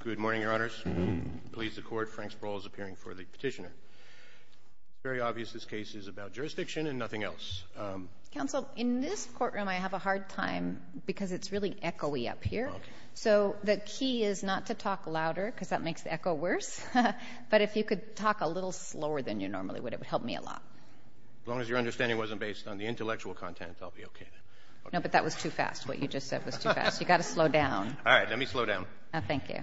Good morning, Your Honors. Please, the Court, Frank Sproul is appearing for the Petitioner. It's very obvious this case is about jurisdiction and nothing else. Counsel, in this courtroom I have a hard time because it's really echoey up here. Okay. So the key is not to talk louder because that makes the echo worse. But if you could talk a little slower than you normally would, it would help me a lot. As long as your understanding wasn't based on the intellectual content, I'll be okay. No, but that was too fast. What you just said was too fast. You've got to slow down. All right. Let me slow down. Oh, thank you.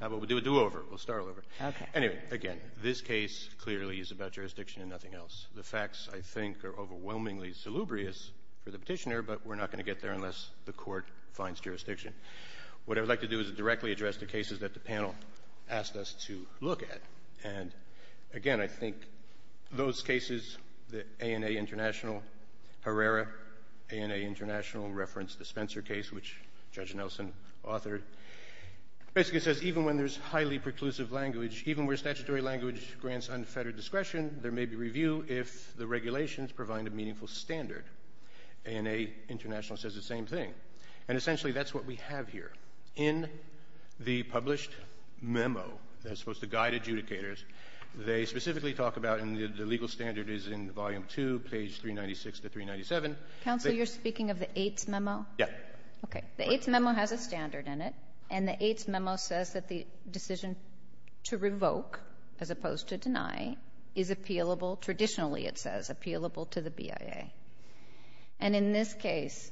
How about we do a do-over? We'll start all over. Okay. Anyway, again, this case clearly is about jurisdiction and nothing else. The facts, I think, are overwhelmingly salubrious for the Petitioner, but we're not going to get there unless the Court finds jurisdiction. What I would like to do is directly address the cases that the panel asked us to look at. And, again, I think those cases, the A&A International Herrera, A&A International referenced the Spencer case, which Judge Nelson authored. Basically, it says, even when there's highly preclusive language, even where statutory language grants unfettered discretion, there may be review if the regulations provide a meaningful standard. A&A International says the same thing. And, essentially, that's what we have here. In the published memo that's supposed to guide adjudicators, they specifically talk about, and the legal standard is in Volume 2, page 396 to 397. Kagan. Counsel, you're speaking of the AITS memo? Yes. Okay. The AITS memo has a standard in it, and the AITS memo says that the decision to revoke, as opposed to deny, is appealable. Traditionally, it says, appealable to the BIA. And in this case,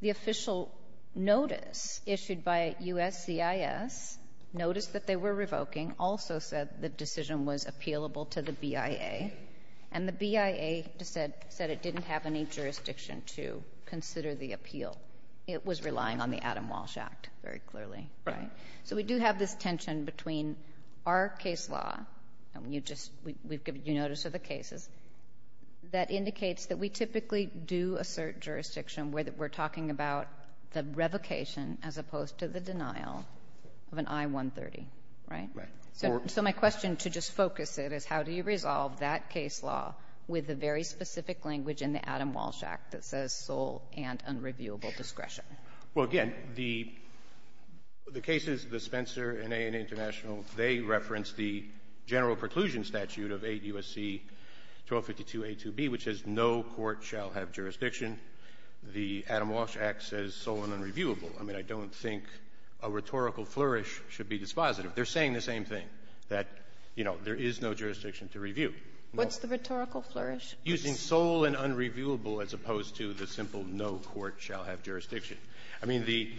the official notice issued by USCIS, notice that they were revoking, also said the decision was appealable to the BIA. And the BIA said it didn't have any jurisdiction to consider the appeal. It was relying on the Adam Walsh Act, very clearly. Right. So we do have this tension between our case law, and you just we've given you notice of the cases, that indicates that we typically do assert jurisdiction where we're talking about the revocation as opposed to the denial of an I-130. Right. So my question, to just focus it, is how do you resolve that case law with the very specific language in the Adam Walsh Act that says sole and unreviewable discretion? Well, again, the cases, the Spencer and A&A International, they reference the general preclusion statute of 8 U.S.C. 1252a2b, which says no court shall have jurisdiction. The Adam Walsh Act says sole and unreviewable. I mean, I don't think a rhetorical flourish should be dispositive. They're saying the same thing, that, you know, there is no jurisdiction to review. What's the rhetorical flourish? Using sole and unreviewable as opposed to the simple no court shall have jurisdiction. I mean, the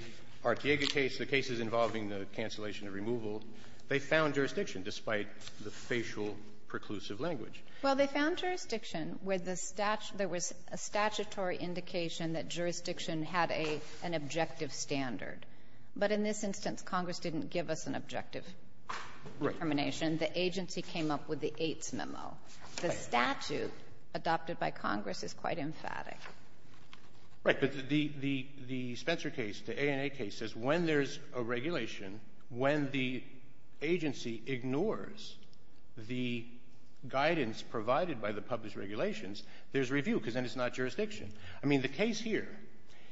Artiega case, the cases involving the cancellation of removal, they found jurisdiction despite the facial preclusive language. Well, they found jurisdiction with the statute. There was a statutory indication that jurisdiction had a an objective standard. But in this instance, Congress didn't give us an objective determination. The agency came up with the AITS memo. The statute adopted by Congress is quite emphatic. Right. But the Spencer case, the A&A case, says when there's a regulation, when the agency ignores the guidance provided by the published regulations, there's review, because then it's not jurisdiction. I mean, the case here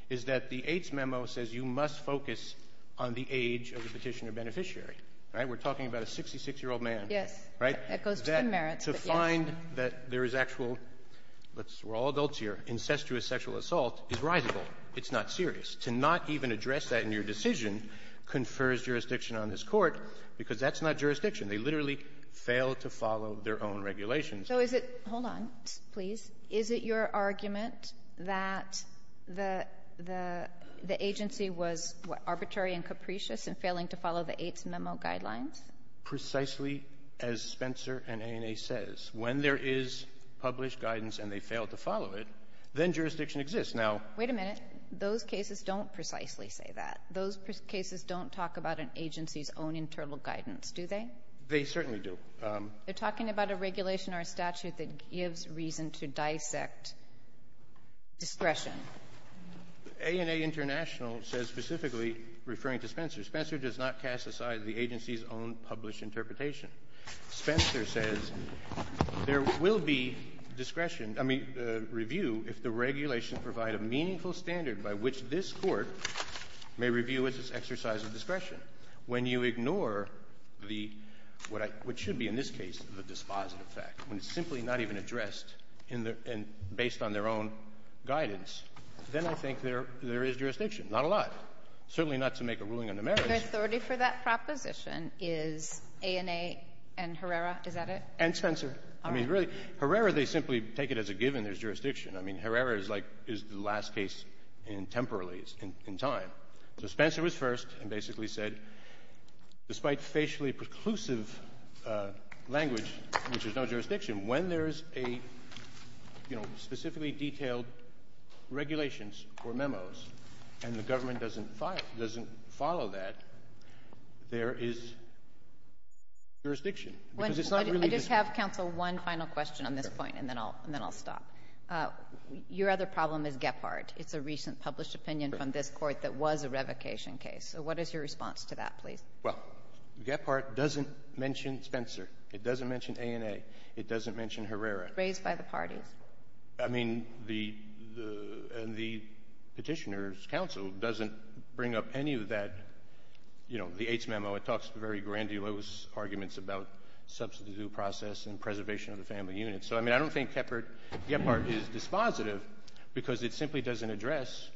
is that the AITS memo says you must focus on the age of the Petitioner-Beneficiary, right? We're talking about a 66-year-old man. Yes. Right? That goes to the merits. To find that there is actual, let's see, we're all adults here, incestuous sexual assault is risible. It's not serious. To not even address that in your decision confers jurisdiction on this Court, because that's not jurisdiction. They literally fail to follow their own regulations. So is it — hold on, please. Is it your argument that the agency was arbitrary and capricious in failing to follow the AITS memo guidelines? Precisely as Spencer and A&A says. When there is published guidance and they fail to follow it, then jurisdiction exists. Now — Wait a minute. Those cases don't precisely say that. Those cases don't talk about an agency's own internal guidance, do they? They certainly do. They're talking about a regulation or a statute that gives reason to dissect discretion. A&A International says specifically, referring to Spencer, Spencer does not cast aside the agency's own published interpretation. Spencer says there will be discretion — I mean, review if the regulations provide a meaningful standard by which this review is an exercise of discretion. When you ignore the — what should be, in this case, the dispositive fact, when it's simply not even addressed in the — and based on their own guidance, then I think there is jurisdiction, not a lot, certainly not to make a ruling on the merits. Your authority for that proposition is A&A and Herrera? Is that it? And Spencer. I mean, really, Herrera, they simply take it as a given there's jurisdiction. I mean, Herrera is like — is the last case in temporally, in time. So Spencer was first and basically said, despite facially preclusive language, which is no jurisdiction, when there's a, you know, specifically detailed regulations or memos, and the government doesn't follow that, there is jurisdiction. Because it's not really just — I just have, counsel, one final question on this point, and then I'll — and then I'll stop. Your other problem is Gephardt. It's a recent published opinion from this Court that was a revocation case. So what is your response to that, please? Well, Gephardt doesn't mention Spencer. It doesn't mention A&A. It doesn't mention Herrera. Raised by the parties. I mean, the — and the Petitioner's counsel doesn't bring up any of that, you know, the AITS memo. It talks very grandulous arguments about substantive due process and preservation of the family unit. So, I mean, I don't think Gephardt is dispositive because it simply doesn't address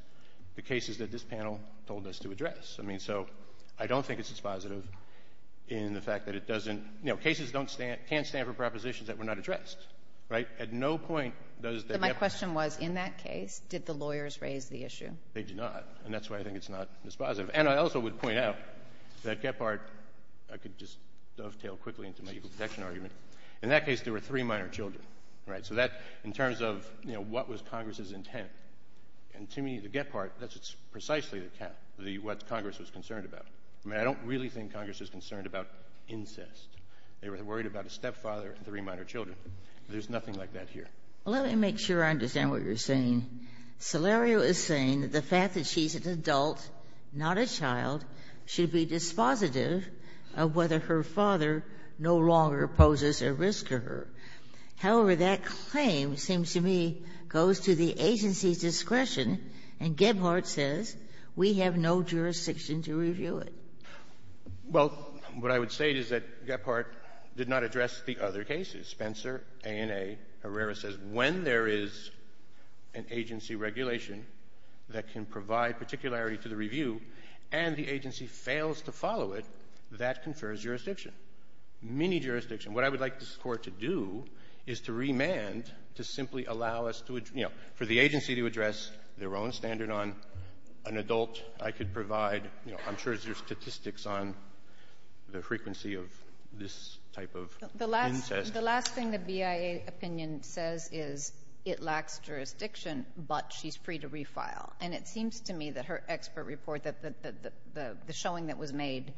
the cases that this panel told us to address. I mean, so I don't think it's dispositive in the fact that it doesn't — you know, cases don't stand — can't stand for propositions that were not addressed. Right? At no point does the — So my question was, in that case, did the lawyers raise the issue? They did not. And that's why I think it's not dispositive. And I also would point out that Gephardt — I could just dovetail quickly into my protection argument. In that case, there were three minor children. Right? So that, in terms of, you know, what was Congress's intent, and to me, the Gephardt, that's precisely the cap, the — what Congress was concerned about. I mean, I don't really think Congress is concerned about incest. They were worried about a stepfather and three minor children. There's nothing like that here. Well, let me make sure I understand what you're saying. Solerio is saying that the fact that she's an adult, not a child, should be dispositive of whether her father no longer poses a risk to her. However, that claim, it seems to me, goes to the agency's discretion, and Gephardt says we have no jurisdiction to review it. Well, what I would say is that Gephardt did not address the other cases. Spencer, A&A, Herrera says when there is an agency regulation that can provide particularity to the review and the agency fails to follow it, that confers jurisdiction. Mini-jurisdiction. What I would like this Court to do is to remand to simply allow us to — you know, for the agency to address their own standard on an adult, I could provide, you know, I'm sure there's statistics on the frequency of this type of incest. The last thing the BIA opinion says is it lacks jurisdiction, but she's free to refile. And it seems to me that her expert report, the showing that was made,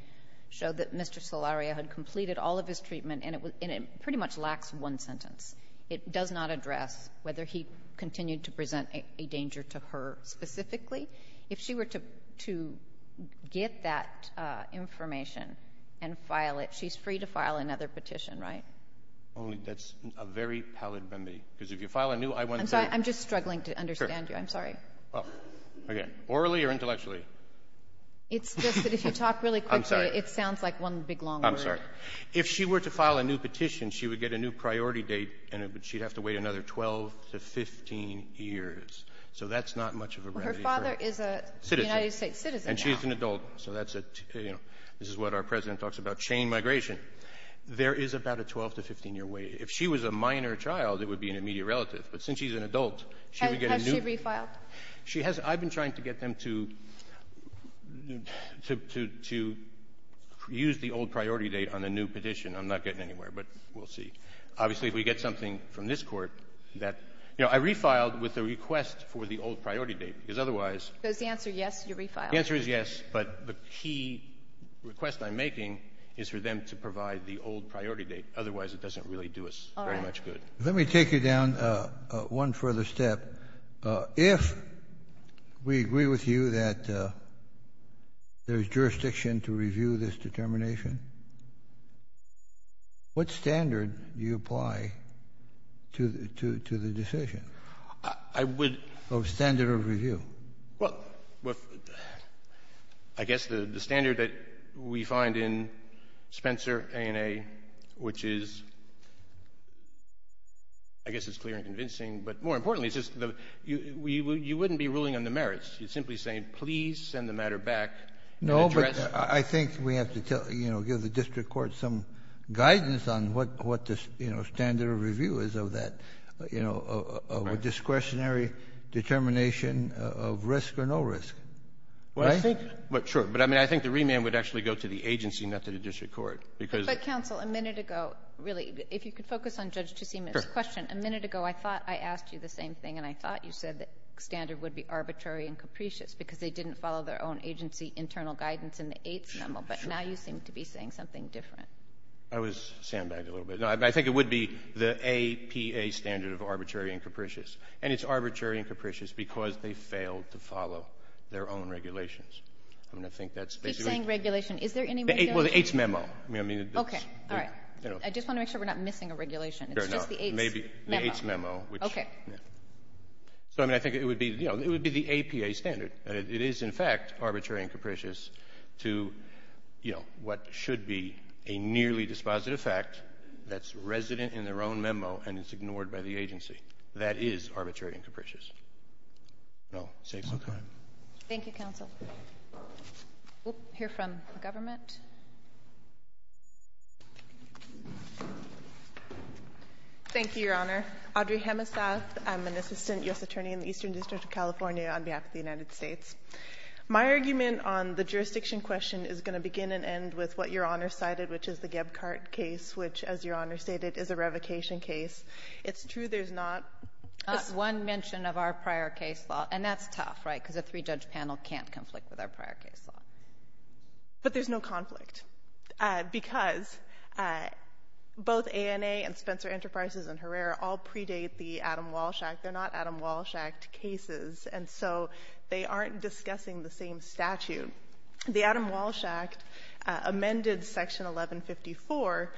showed that Mr. Solaria had completed all of his treatment, and it pretty much lacks one sentence. It does not address whether he continued to present a danger to her specifically. If she were to get that information and file it, she's free to file another petition, right? Only that's a very pallid remedy. Because if you file a new I-17 — I'm sorry. I'm just struggling to understand you. I'm sorry. Well, again, orally or intellectually? It's just that if you talk really quickly, it sounds like one big, long word. I'm sorry. If she were to file a new petition, she would get a new priority date, and she'd have to wait another 12 to 15 years. So that's not much of a remedy for a citizen. Well, her father is a United States citizen now. And she's an adult. So that's a — you know, this is what our President talks about, chain migration. There is about a 12- to 15-year wait. If she was a minor child, it would be an immediate relative. But since she's an adult, she would get a new — She has — I've been trying to get them to use the old priority date on a new petition. I'm not getting anywhere, but we'll see. Obviously, if we get something from this Court that — you know, I refiled with a request for the old priority date, because otherwise — Because the answer, yes, you refiled. The answer is yes. But the key request I'm making is for them to provide the old priority date. Otherwise, it doesn't really do us very much good. All right. Let me take you down one further step. If we agree with you that there's jurisdiction to review this determination, what standard do you apply to the decision? I would — Of standard of review. Well, I guess the standard that we find in Spencer A&A, which is — I guess it's clear and convincing, but more importantly, it's just the — you wouldn't be ruling on the merits. You're simply saying, please send the matter back and address — No, but I think we have to tell — you know, give the district court some guidance on what the, you know, standard of review is of that, you know, of a discretionary determination of risk or no risk. Right? Well, I think — but, sure. But, I mean, I think the remand would actually go to the agency, not to the district court, because — But, counsel, a minute ago, really, if you could focus on Judge Chisima's question. Sure. A minute ago, I thought I asked you the same thing, and I thought you said the standard would be arbitrary and capricious because they didn't follow their own agency internal guidance in the AITS memo. But now you seem to be saying something different. I was sandbagged a little bit. No, I think it would be the APA standard of arbitrary and capricious. And it's arbitrary and capricious because they failed to follow their own regulations. I mean, I think that's basically — He's saying regulation. Is there any regulation? Well, the AITS memo. I mean, it's — All right. I just want to make sure we're not missing a regulation. It's just the AITS — It's the AITS memo, which — Okay. Yeah. So, I mean, I think it would be — you know, it would be the APA standard, that it is, in fact, arbitrary and capricious to, you know, what should be a nearly dispositive fact that's resident in their own memo and is ignored by the agency. That is arbitrary and capricious. I'll take my time. Thank you, counsel. We'll hear from the government. Thank you, Your Honor. Audrey Hemesath. I'm an assistant U.S. attorney in the Eastern District of California on behalf of the United States. My argument on the jurisdiction question is going to begin and end with what Your Honor cited, which is the Gebkart case, which, as Your Honor stated, is a revocation case. It's true there's not — There's one mention of our prior case law, and that's tough, right, because a three-judge panel can't conflict with our prior case law. But there's no conflict because both ANA and Spencer Enterprises and Herrera all predate the Adam Walsh Act. They're not Adam Walsh Act cases, and so they aren't discussing the same statute. The Adam Walsh Act amended Section 1154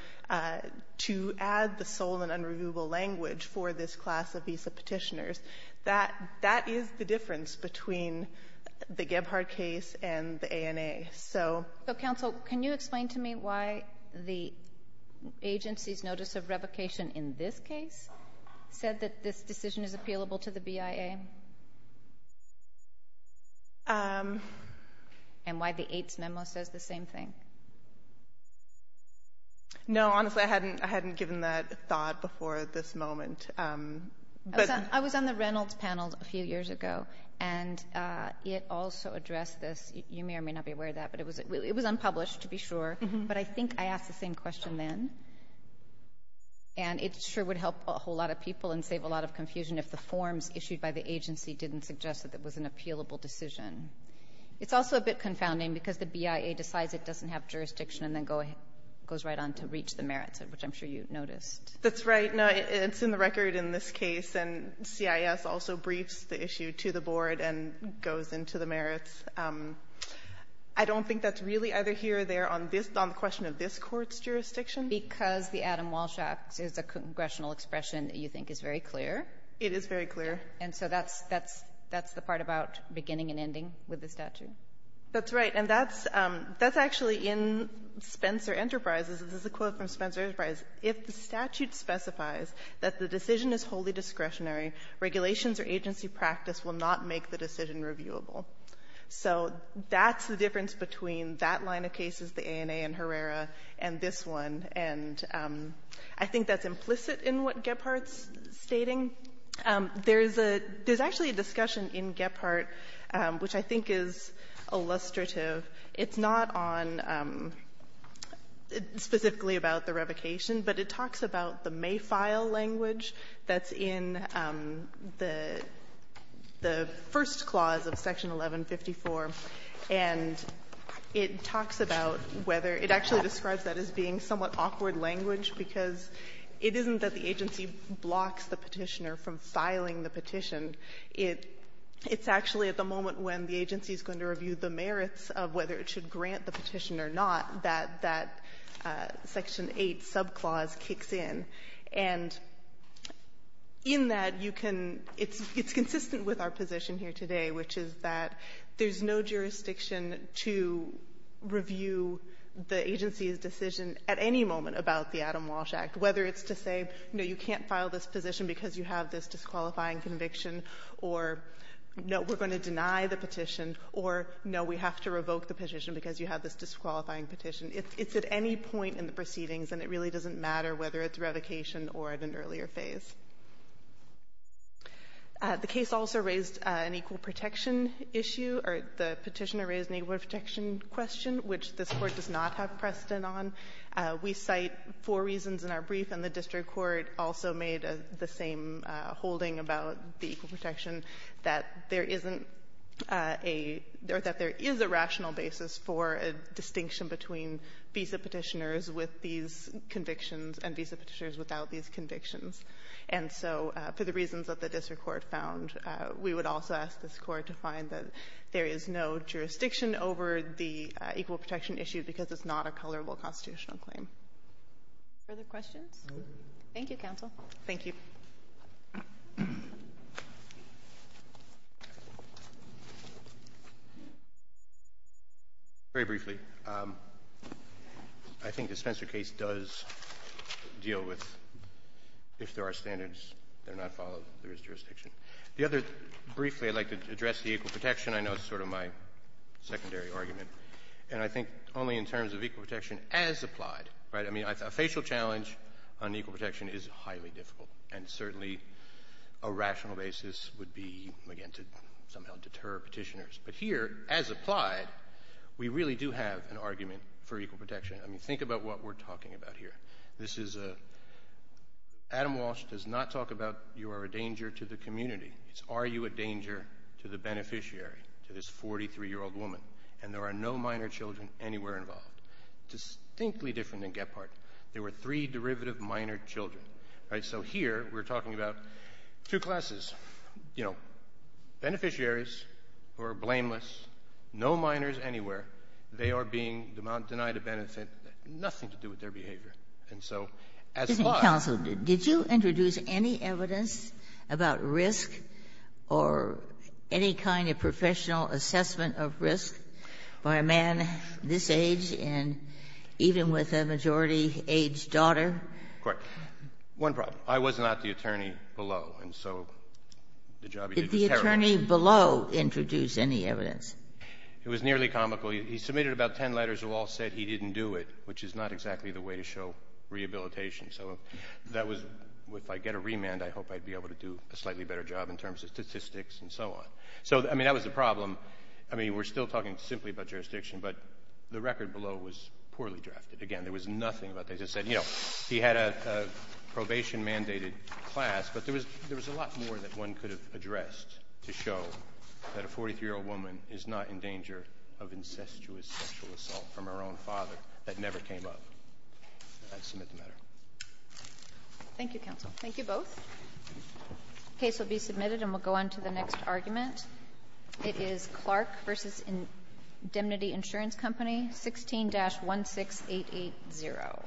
to add the sole and unreviewable language for this class of visa petitioners. That is the difference between the Gebkart case and the ANA. So — But, counsel, can you explain to me why the agency's notice of revocation in this case said that this decision is appealable to the BIA? And why the AITS memo says the same thing? No, honestly, I hadn't given that thought before this moment. But — I was on the Reynolds panel a few years ago, and it also addressed this. You may or may not be aware of that, but it was unpublished, to be sure. But I think I asked the same question then. And it sure would help a whole lot of people and save a lot of confusion if the forms issued by the agency didn't suggest that it was an appealable decision. It's also a bit confounding because the BIA decides it doesn't have jurisdiction and then goes right on to reach the merits, which I'm sure you noticed. That's right. No, it's in the record in this case. And CIS also briefs the issue to the board and goes into the merits. I don't think that's really either here or there on this — on the question of this Court's jurisdiction. Because the Adam Walsh Act is a congressional expression that you think is very clear. It is very clear. And so that's — that's the part about beginning and ending with the statute. That's right. And that's — that's actually in Spencer Enterprises. This is a quote from Spencer Enterprises. If the statute specifies that the decision is wholly discretionary, regulations or agency practice will not make the decision reviewable. So that's the difference between that line of cases, the ANA and Herrera, and this one. And I think that's implicit in what Gephardt's stating. There's a — there's actually a discussion in Gephardt which I think is illustrative. It's not on — it's specifically about the revocation, but it talks about the may-file language that's in the — the first clause of Section 1154, and it talks about whether — it actually describes that as being somewhat awkward language because it isn't that the agency blocks the Petitioner from filing the petition. It's actually at the moment when the agency is going to review the merits of whether it should grant the petition or not that that Section 8 subclause kicks in. And in that, you can — it's consistent with our position here today, which is that there's no jurisdiction to review the agency's decision at any moment about the Adam Walsh Act, whether it's to say, no, you can't file this position because you have this disqualifying conviction, or, no, we're going to deny the petition, or, no, we have to revoke the petition because you have this disqualifying petition. It's at any point in the proceedings, and it really doesn't matter whether it's revocation or at an earlier phase. The case also raised an equal protection issue, or the Petitioner raised an equal protection question, which this Court does not have precedent on. We cite four reasons in our brief, and the district court also made the same holding about the equal protection, that there isn't a — or that there is a rational basis for a distinction between visa Petitioners with these convictions and visa Petitioners without these convictions. And so for the reasons that the district court found, we would also ask this Court to find that there is no jurisdiction over the equal protection issue because it's not a colorable constitutional claim. Further questions? Thank you, counsel. Thank you. Very briefly, I think the Spencer case does deal with, if there are standards, they're not followed, there is jurisdiction. The other — briefly, I'd like to address the equal protection. I know it's sort of my secondary argument. And I think only in terms of equal protection as applied, right? I mean, a facial challenge on equal protection is highly difficult, and certainly a rational basis would be, again, to somehow deter Petitioners. But here, as applied, we really do have an argument for equal protection. I mean, think about what we're talking about here. This is a — Adam Walsh does not talk about, you are a danger to the community. It's, are you a danger to the beneficiary, to this 43-year-old woman? And there are no minor children anywhere involved. Distinctly different than Gephardt. There were three derivative minor children, right? So here, we're talking about two classes, you know, beneficiaries who are blameless, no minors anywhere. They are being denied a benefit, nothing to do with their behavior. And so, as applied — Counsel, did you introduce any evidence about risk or any kind of professional assessment of risk by a man this age and even with a majority-aged daughter? Correct. One problem. I was not the attorney below, and so the job he did was terrible. Did the attorney below introduce any evidence? It was nearly comical. He submitted about ten letters that all said he didn't do it, which is not exactly the way to show rehabilitation. So that was — if I get a remand, I hope I'd be able to do a slightly better job in terms of statistics and so on. So, I mean, that was the problem. I mean, we're still talking simply about jurisdiction, but the record below was poorly drafted. Again, there was nothing about — they just said, you know, he had a probation-mandated class. But there was a lot more that one could have addressed to show that a 43-year-old woman is not in danger of incestuous sexual assault from her own father. That never came up. I submit the matter. Thank you, counsel. Thank you both. The case will be submitted, and we'll go on to the next argument. It is Clark v. Indemnity Insurance Company, 16-16880.